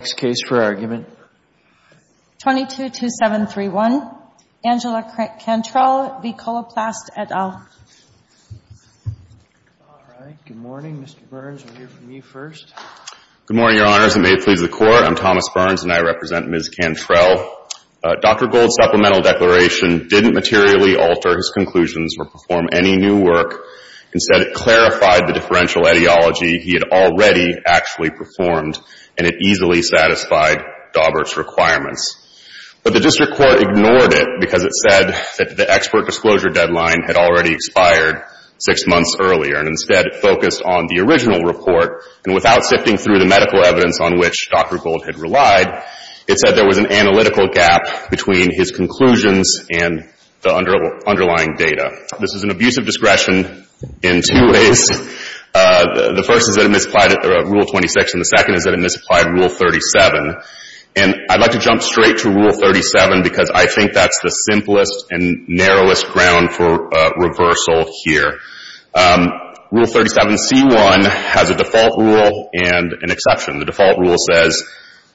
Next case for argument. 222731, Angela Cantrell v. Coloplast, et al. All right, good morning, Mr. Burns, we'll hear from you first. Good morning, Your Honors, and may it please the Court, I'm Thomas Burns and I represent Ms. Cantrell. Dr. Gold's supplemental declaration didn't materially alter his conclusions or perform any new work. Instead, it clarified the differential ideology he had already actually performed and it easily satisfied Daubert's requirements. But the district court ignored it because it said that the expert disclosure deadline had already expired six months earlier and instead focused on the original report. And without sifting through the medical evidence on which Dr. Gold had relied, it said there was an analytical gap between his conclusions and the underlying data. This is an abuse of discretion in two ways. The first is that it misapplied Rule 26 and the second is that it misapplied Rule 37. And I'd like to jump straight to Rule 37 because I think that's the simplest and narrowest ground for reversal here. Rule 37c1 has a default rule and an exception. The default rule says,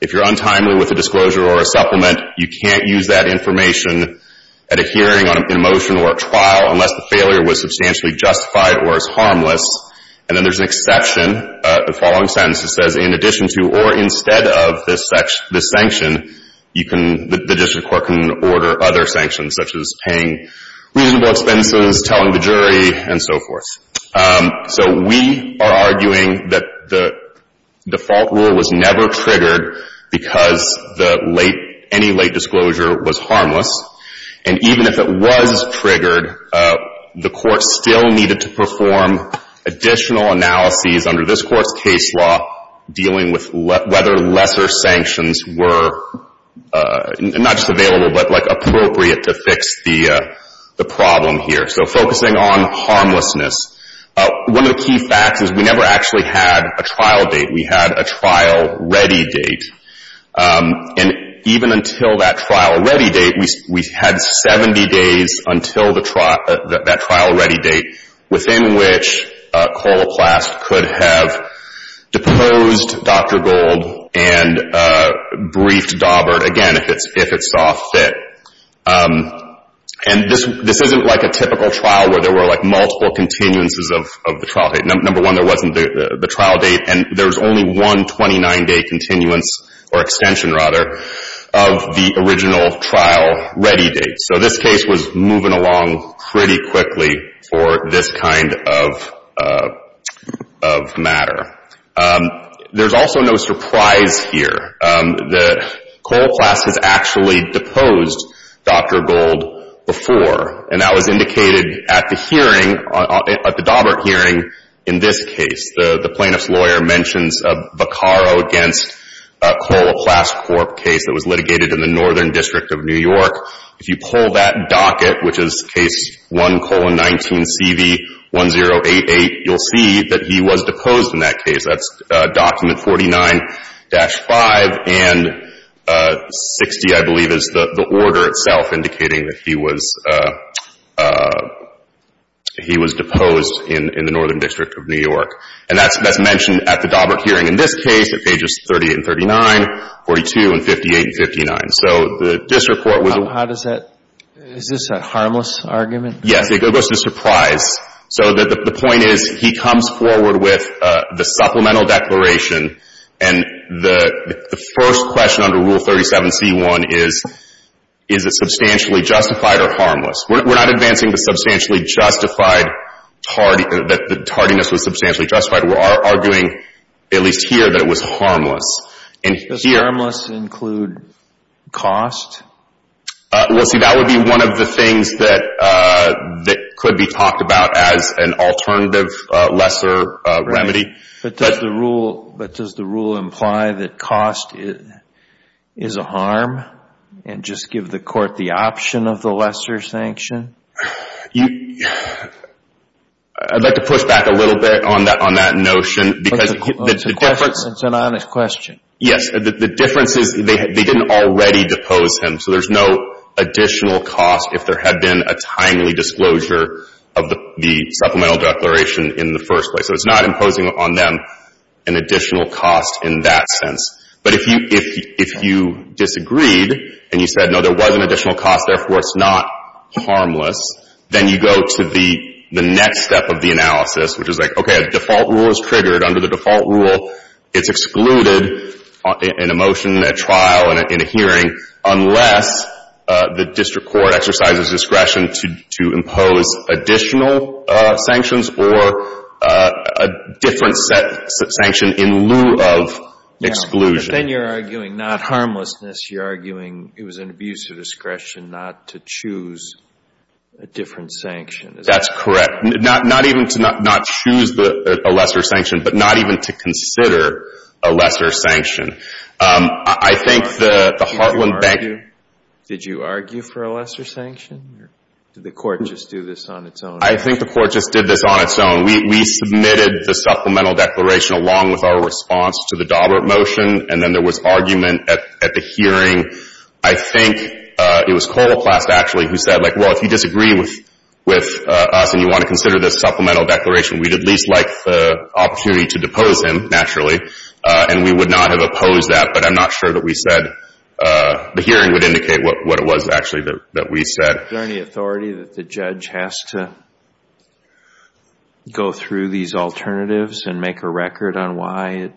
if you're untimely with a disclosure or a supplement, you can't use that information at a hearing, in a motion, or a trial unless the failure was substantially justified or is harmless. And then there's an exception, the following sentence, it says, in addition to or instead of this sanction, you can, the district court can order other sanctions, such as paying reasonable expenses, telling the jury, and so forth. So we are arguing that the default rule was never triggered because the late, any late disclosure was harmless. And even if it was triggered, the court still needed to perform additional analyses under this Court's case law dealing with whether lesser sanctions were not just available but like appropriate to fix the problem here. So focusing on harmlessness, one of the key facts is we never actually had a trial date. We had a trial-ready date. And even until that trial-ready date, we had 70 days until the trial, that trial-ready date within which Coloplast could have deposed Dr. Gold and briefed Daubert again if it saw fit. And this isn't like a typical trial where there were like multiple continuances of the trial date. Number one, there wasn't the trial date, and there's only one 29-day continuance, or extension rather, of the original trial-ready date. So this case was moving along pretty quickly for this kind of matter. There's also no surprise here that Coloplast has actually deposed Dr. Gold before, and that was indicated at the hearing, at the Daubert hearing in this case. The plaintiff's lawyer mentions a Baccaro against Coloplast Corp. case that was litigated in the Northern District of New York. If you pull that docket, which is case 1-19-CV-1088, you'll see that he was deposed in that case. That's document 49-5, and 60, I believe, is the order itself indicating that he was deposed in the Northern District of New York. And that's mentioned at the Daubert hearing in this case, at pages 38 and 39, 42 and 58 and 59. So this report was a — How does that — is this a harmless argument? Yes. It goes to surprise. So the point is, he comes forward with the supplemental declaration, and the first question under Rule 37c1 is, is it substantially justified or harmless? We're not advancing the substantially justified — that the tardiness was substantially justified. We're arguing, at least here, that it was harmless. And here — Does harmless include cost? Well, see, that would be one of the things that could be talked about as an alternative lesser remedy. Right. But does the rule imply that cost is a harm, and just give the court the option of the lesser sanction? I'd like to push back a little bit on that notion, because the difference — It's an honest question. Yes. The difference is, they didn't already depose him, so there's no additional cost if there had been a timely disclosure of the supplemental declaration in the first place. So it's not imposing on them an additional cost in that sense. But if you — if you disagreed, and you said, no, there was an additional cost, therefore it's not harmless, then you go to the next step of the analysis, which is like, okay, a default rule is triggered under the default rule, it's excluded in a motion, in a trial, in a hearing, unless the district court exercises discretion to impose additional sanctions or a different set — sanction in lieu of exclusion. Yeah. But then you're arguing not harmlessness, you're arguing it was an abuse of discretion not to choose a different sanction. That's correct. Not even to not choose a lesser sanction, but not even to consider a lesser sanction. I think the Hartland Bank — Did you argue for a lesser sanction? Or did the court just do this on its own? I think the court just did this on its own. We submitted the supplemental declaration along with our response to the Daubert motion, and then there was argument at the hearing. I think it was Koloplast, actually, who said, like, well, if you disagree with us and you want to consider this supplemental declaration, we'd at least like the opportunity to depose him, naturally. And we would not have opposed that, but I'm not sure that we said — the hearing would indicate what it was, actually, that we said. Is there any authority that the judge has to go through these alternatives and make a record on why it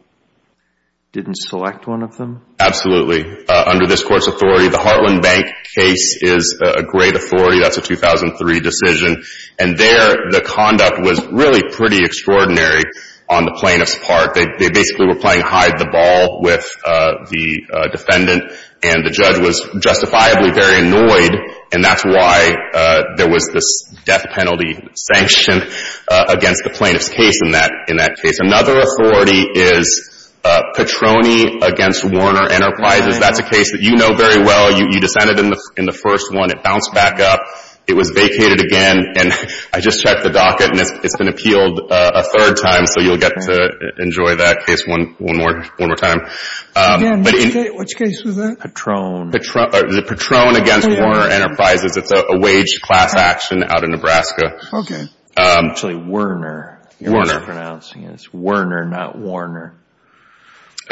didn't select one of them? Absolutely. Under this court's authority, the Hartland Bank case is a great authority. That's a 2003 decision. And there, the conduct was really pretty extraordinary on the plaintiff's part. They basically were playing hide-the-ball with the defendant, and the judge was justifiably very annoyed, and that's why there was this death penalty sanction against the plaintiff's case in that case. Another authority is Petroni v. Warner Enterprises. That's a case that you know very well. You dissented in the first one. It bounced back up. It was vacated again, and I just checked the docket, and it's been appealed a third time, so you'll get to enjoy that case one more time. Which case was that? Petroni. The Petroni v. Warner Enterprises. It's a wage class action out of Nebraska. Okay. Actually, Werner. Werner. You're mispronouncing it. It's Werner, not Warner.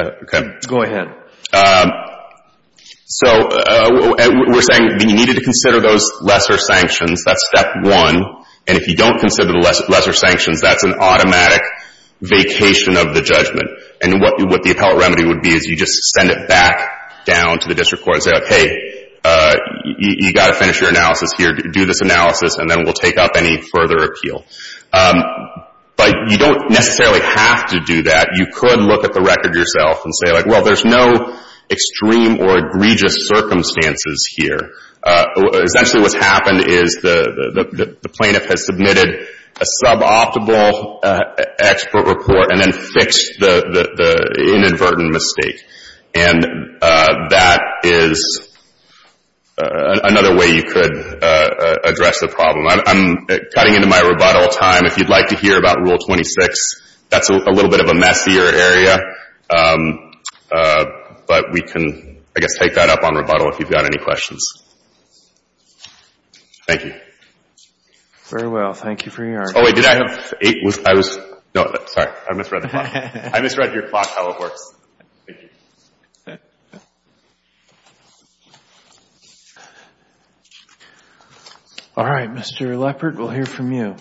Okay. Go ahead. Okay. So we're saying that you needed to consider those lesser sanctions. That's step one, and if you don't consider the lesser sanctions, that's an automatic vacation of the judgment, and what the appellate remedy would be is you just send it back down to the district court and say, okay, you've got to finish your analysis here. Do this analysis, and then we'll take up any further appeal. But you don't necessarily have to do that. You could look at the record yourself and say, well, there's no extreme or egregious circumstances here. Essentially, what's happened is the plaintiff has submitted a suboptimal expert report and then fixed the inadvertent mistake, and that is another way you could address the problem. I'm cutting into my rebuttal time. If you'd like to hear about Rule 26, that's a little bit of a messier area, but we can, I guess, take that up on rebuttal if you've got any questions. Thank you. Very well. Thank you for your argument. Oh, wait. Did I have eight? I was... No. Sorry. I misread the clock. I misread your clock, how it works. Thank you. All right. Mr. Leppert, we'll hear from you.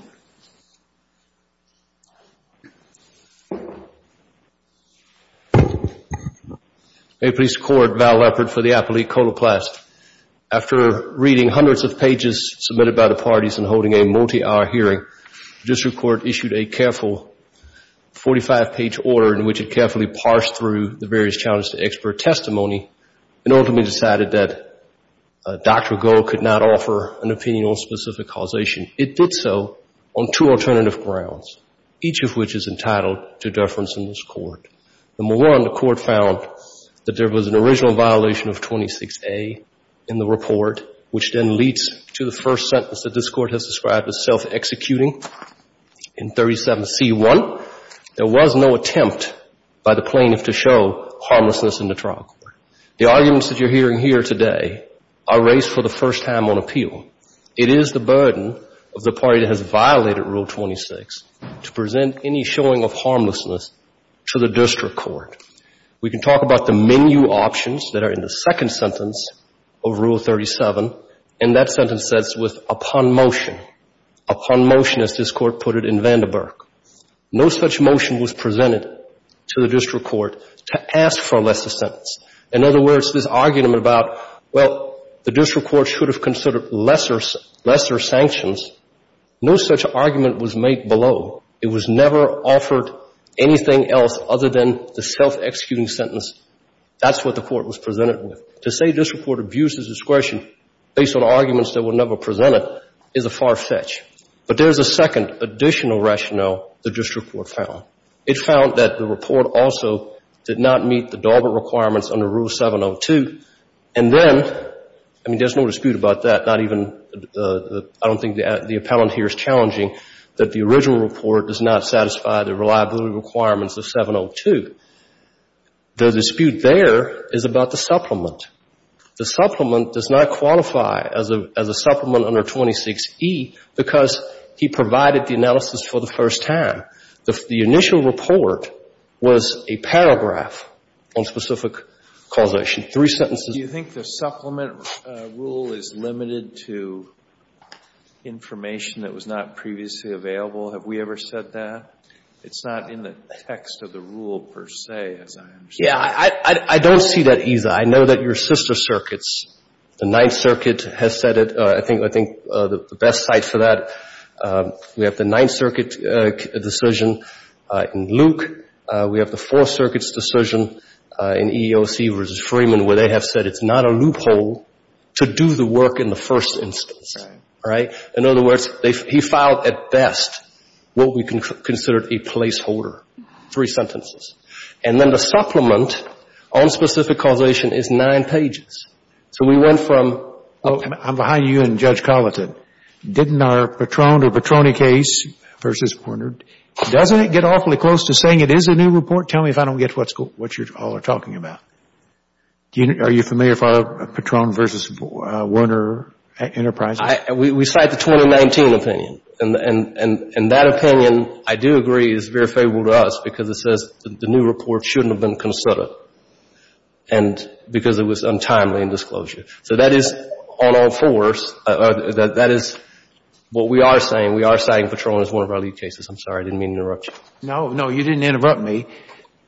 May it please the Court, Val Leppert for the Appellate Code of Class. After reading hundreds of pages submitted by the parties and holding a multi-hour hearing, the district court issued a careful 45-page order in which it carefully parsed through the various challenges to expert testimony and ultimately decided that Dr. Goh could not offer an opinion on specific causation. It did so on two alternative grounds, each of which is entitled to deference in this court. Number one, the court found that there was an original violation of 26A in the report, which then leads to the first sentence that this court has described as self-executing in 37C1. There was no attempt by the plaintiff to show harmlessness in the trial court. The arguments that you're hearing here today are raised for the first time on appeal. It is the burden of the party that has violated Rule 26 to present any showing of harmlessness to the district court. We can talk about the menu options that are in the second sentence of Rule 37, and that sentence says with upon motion. Upon motion, as this court put it in Vandenberg. No such motion was presented to the district court to ask for less a sentence. In other words, this argument about, well, the district court should have considered lesser sanctions, no such argument was made below. It was never offered anything else other than the self-executing sentence. That's what the court was presented with. To say district court abuses discretion based on arguments that were never presented is a far fetch. But there's a second additional rationale the district court found. It found that the report also did not meet the Daubert requirements under Rule 702. And then, I mean, there's no dispute about that. Not even, I don't think the appellant here is challenging that the original report does not satisfy the reliability requirements of 702. The dispute there is about the supplement. The supplement does not qualify as a supplement under 26E because he provided the analysis for the first time. The initial report was a paragraph on specific causation, three sentences. Do you think the supplement rule is limited to information that was not previously available? Have we ever said that? It's not in the text of the rule, per se, as I understand. Yeah, I don't see that, either. I know that your sister circuits, the Ninth Circuit, has said it. I think the best site for that, we have the Ninth Circuit, decision in Luke. We have the Fourth Circuit's decision in EEOC v. Freeman, where they have said it's not a loophole to do the work in the first instance. Right? In other words, he filed, at best, what we considered a placeholder, three sentences. And then the supplement on specific causation is nine pages. So we went from oh, I'm behind you and Judge Colleton. Didn't our Patron or Patroni case v. Werner, doesn't it get awfully close to saying it is a new report? Tell me if I don't get what you all are talking about. Are you familiar with our Patron v. Werner enterprise? We cite the 2019 opinion. And that opinion, I do agree, is very favorable to us because it says the new report shouldn't have been considered. And because it was untimely in disclosure. So that is, all all fours, that is what we are saying. We are citing Patroni as one of our lead cases. I'm sorry, I didn't mean to interrupt you. No, no, you didn't interrupt me.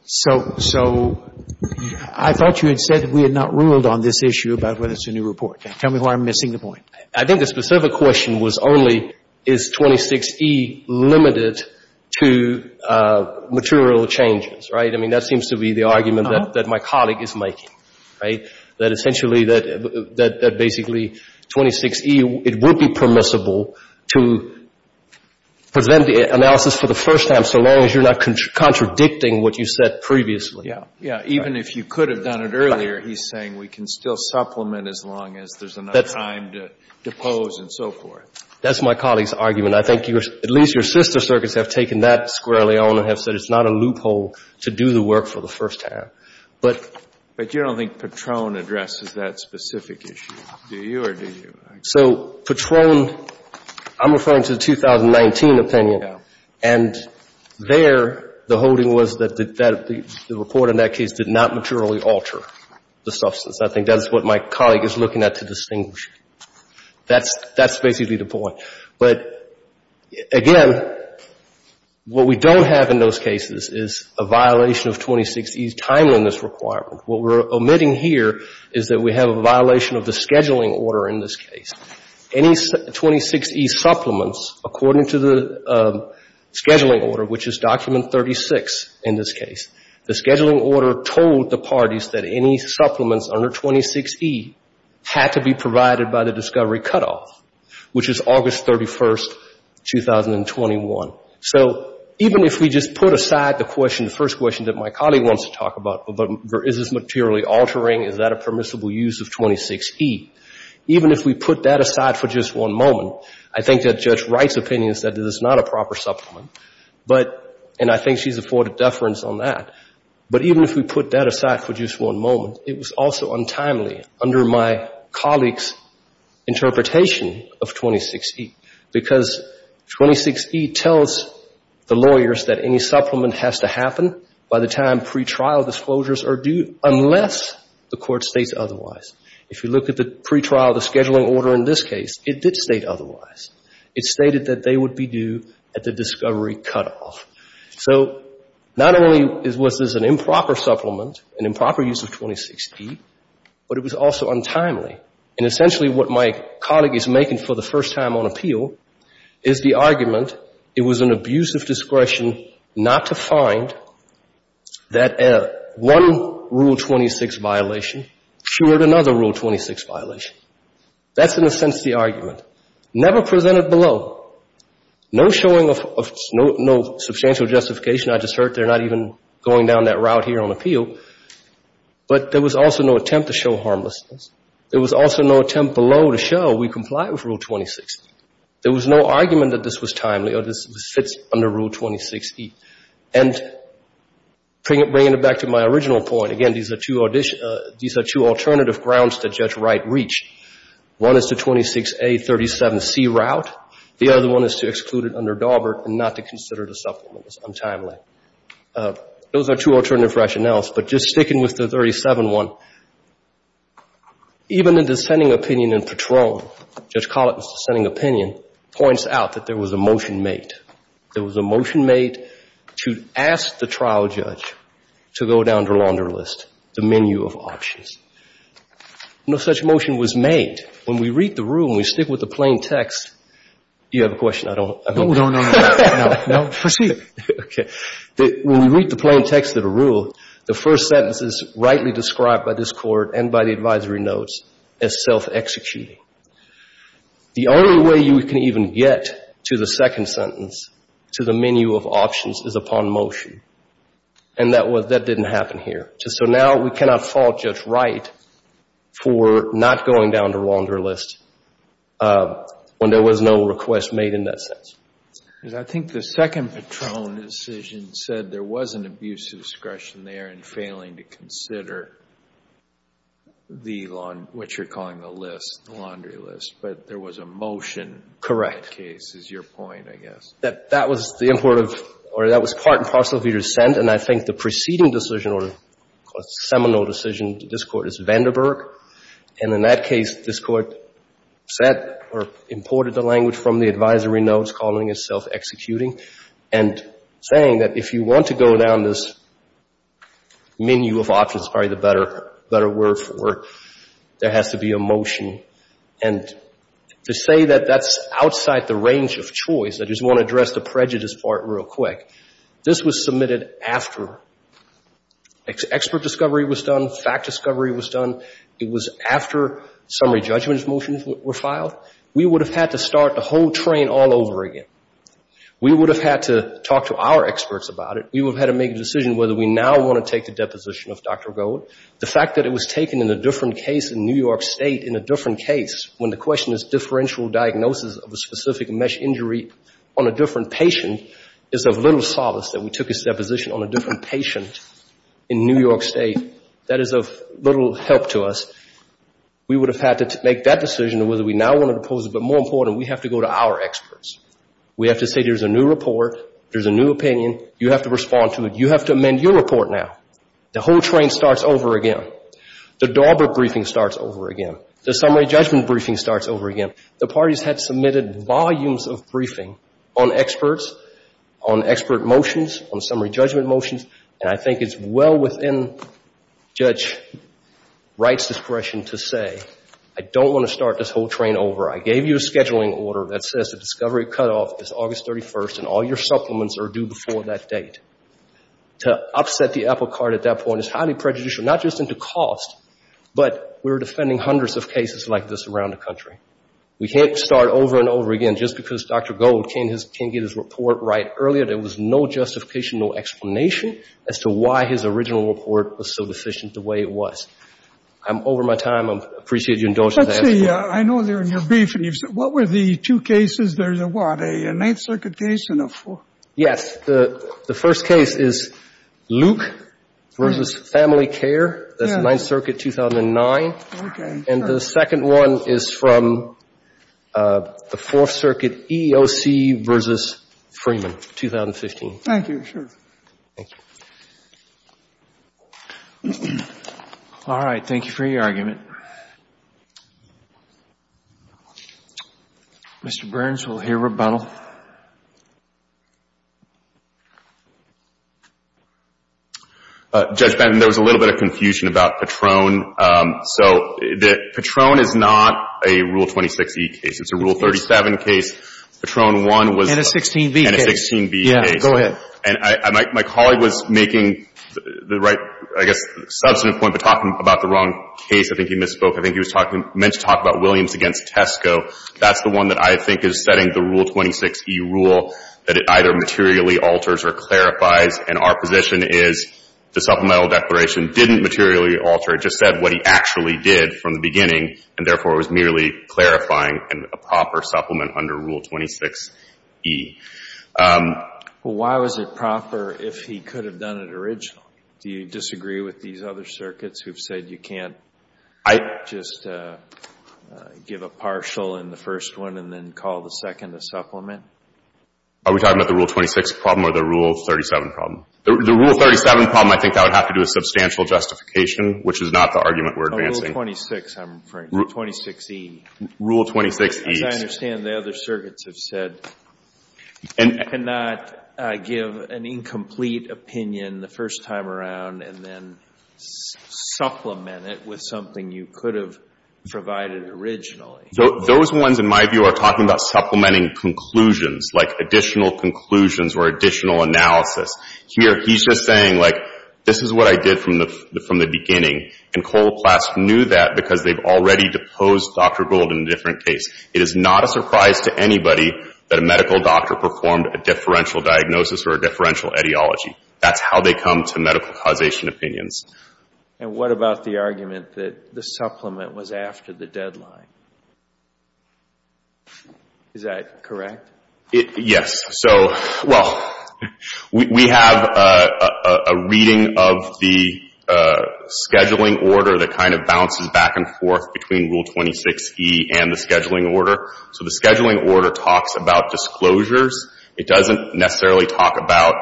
So, so I thought you had said that we had not ruled on this issue about whether it's a new report. Tell me why I'm missing the point. I think the specific question was only is 26E limited to material changes, right? I mean, that seems to be the argument that my colleague is making, right? That essentially, that basically 26E, it would be permissible to present the analysis for the first time so long as you're not contradicting what you said previously. Yeah, even if you could have done it earlier, he's saying we can still supplement as long as there's enough time to pose and so forth. That's my colleague's argument. I think at least your sister circuits have taken that squarely on and have said it's not a loophole to do the work for the first time. But you don't think Patron addresses that specific issue, do you, or do you? So Patron, I'm referring to the 2019 opinion. And there, the holding was that the report in that case did not materially alter the substance. I think that's what my colleague is looking at to distinguish. That's basically the point. But, again, what we don't have in those cases is a violation of 26E's timeliness requirement. What we're omitting here is that we have a violation of the scheduling order in this case. Any 26E supplements, according to the scheduling order, which is document 36 in this case, the scheduling order told the parties that any supplements under 26E had to be provided by the discovery cutoff, which is August 31st, 2021. So even if we just put aside the question, the first question that my colleague wants to talk about, is this materially altering, is that a permissible use of 26E, even if we put that aside for just one moment, I think that Judge Wright's opinion is that this is not a proper supplement. But, and I think she's afforded deference on that, but even if we put that aside for just one moment, it was also untimely under my colleague's interpretation of 26E. Because 26E tells the lawyers that any supplement has to happen by the time pretrial disclosures are due, unless the court states otherwise. If you look at the pretrial, the scheduling order in this case, it did state otherwise. It stated that they would be due at the discovery cutoff. So not only was this an improper supplement, an improper use of 26E, but it was also untimely. And essentially what my colleague is making for the first time on appeal is the argument it was an abuse of discretion not to find that one Rule 26 violation cured another Rule 26 violation. Never presented below. No showing of no substantial justification. I just heard they're not even going down that route here on appeal. But there was also no attempt to show harmlessness. There was also no attempt below to show we comply with Rule 26. There was no argument that this was timely or this fits under Rule 26E. And bringing it back to my original point, again, these are two alternative grounds that Judge Wright reached. One is to 26A, 37C route. The other one is to exclude it under Daubert and not to consider it a supplement. It was untimely. Those are two alternative rationales. But just sticking with the 37 one, even the dissenting opinion in Patron, Judge Collett's dissenting opinion, points out that there was a motion made. There was a motion made to ask the trial judge to go down to launder list, the menu of options. No such motion was made. When we read the Rule and we stick with the plain text, do you have a question? I don't. No, no, no. No, proceed. Okay. When we read the plain text of the Rule, the first sentence is rightly described by this Court and by the advisory notes as self-executing. The only way you can even get to the second sentence, to the menu of options, is upon motion. And that didn't happen here. So now we cannot fault Judge Wright for not going down to launder list when there was no request made in that sense. I think the second Patron decision said there was an abuse of discretion there and failing to consider the, what you're calling the list, the laundry list. But there was a motion in that case is your point, I guess. That was the import of, or that was part and parcel of your dissent. And I think the preceding decision or seminal decision to this Court is Vandenberg. And in that case, this Court said or imported the language from the advisory notes calling it self-executing. And saying that if you want to go down this menu of options, probably the better word for it, there has to be a motion. And to say that that's outside the range of choice, I just want to address the prejudice part real quick. This was submitted after expert discovery was done, fact discovery was done. It was after summary judgment motions were filed. We would have had to start the whole train all over again. We would have had to talk to our experts about it. We would have had to make a decision whether we now want to take the deposition of Dr. Gold. The fact that it was taken in a different case in New York State, in a different case, when the question is differential diagnosis of a specific mesh injury on a different patient, is of little solace that we took his deposition on a different patient in New York State. That is of little help to us. We would have had to make that decision whether we now want to oppose it. But more important, we have to go to our experts. We have to say there's a new report, there's a new opinion. You have to respond to it. You have to amend your report now. The whole train starts over again. The Daubert briefing starts over again. The summary judgment briefing starts over again. The parties had submitted volumes of briefing on experts, on expert motions, on summary judgment motions. And I think it's well within Judge Wright's discretion to say, I don't want to start this whole train over. I gave you a scheduling order that says the discovery cutoff is August 31st and all your supplements are due before that date. To upset the apple cart at that point is highly prejudicial, not just in the cost, but we're defending hundreds of cases like this around the country. We can't start over and over again just because Dr. Gold can't get his report right earlier. There was no justification, no explanation as to why his original report was so deficient the way it was. I'm over my time. I appreciate you indulging that. I know they're in your brief, and you've said, what were the two cases? There's a what, a Ninth Circuit case and a four? Yes. The first case is Luke versus Family Care. That's Ninth Circuit, 2009. Okay. And the second one is from the Fourth Circuit, EEOC versus Freeman, 2015. Thank you. Sure. Thank you. All right. Thank you for your argument. Mr. Burns, we'll hear rebuttal. Judge Benton, there was a little bit of confusion about Patron. So Patron is not a Rule 26e case. It's a Rule 37 case. Patron 1 was a 16b case. And a 16b case. Yeah. Go ahead. And my colleague was making the right, I guess, substantive point, but talking about the wrong case. I think he misspoke. I think he was talking, meant to talk about Williams against Tesco. That's the one that I think is setting the Rule 26e rule, that it either materially alters or clarifies. And our position is the supplemental declaration didn't materially alter. It just said what he actually did from the beginning. And therefore, it was merely clarifying a proper supplement under Rule 26e. Well, why was it proper if he could have done it originally? Do you disagree with these other circuits who've said you can't just give a partial in the first one and then call the second a supplement? Are we talking about the Rule 26 problem or the Rule 37 problem? The Rule 37 problem, I think that would have to do with substantial justification, which is not the argument we're advancing. Rule 26, I'm afraid. Rule 26e. Rule 26e. As I understand, the other circuits have said you cannot give an incomplete opinion the first time around and then supplement it with something you could have provided originally. Those ones, in my view, are talking about supplementing conclusions, like additional conclusions or additional analysis. Here, he's just saying, like, this is what I did from the beginning. And Coloplast knew that because they've already deposed Dr. Gold in a different case. It is not a surprise to anybody that a medical doctor performed a differential diagnosis or a differential etiology. That's how they come to medical causation opinions. And what about the argument that the supplement was after the deadline? Is that correct? Yes. So, well, we have a reading of the scheduling order that kind of bounces back and forth between Rule 26e and the scheduling order. So the scheduling order talks about disclosures. It doesn't necessarily talk about,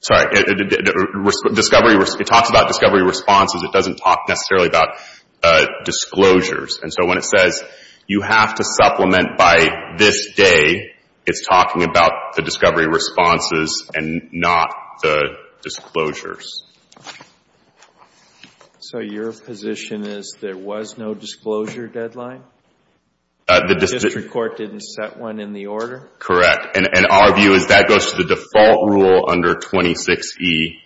sorry, discovery. It talks about discovery responses. It doesn't talk necessarily about disclosures. And so when it says you have to supplement by this day, it's talking about the discovery responses and not the disclosures. So your position is there was no disclosure deadline? The district court didn't set one in the order? Correct. And our view is that goes to the default rule under 26e,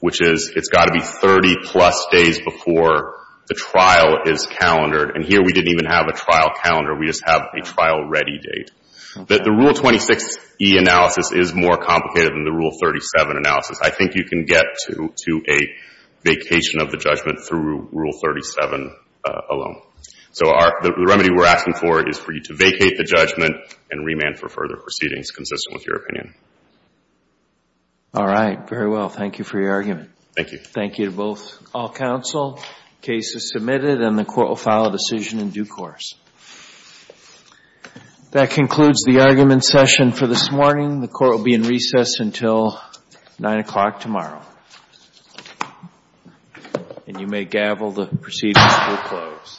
which is it's got to be 30-plus days before the trial is calendared. And here, we didn't even have a trial calendar. We just have a trial-ready date. The Rule 26e analysis is more complicated than the Rule 37 analysis. I think you can get to a vacation of the judgment through Rule 37 alone. So the remedy we're asking for is for you to vacate the judgment and remand for further proceedings consistent with your opinion. All right. Very well. Thank you for your argument. Thank you. Thank you to both all counsel. Case is submitted, and the Court will file a decision in due course. That concludes the argument session for this morning. The Court will be in recess until 9 o'clock tomorrow, and you may gavel the proceedings to a close. Thank you.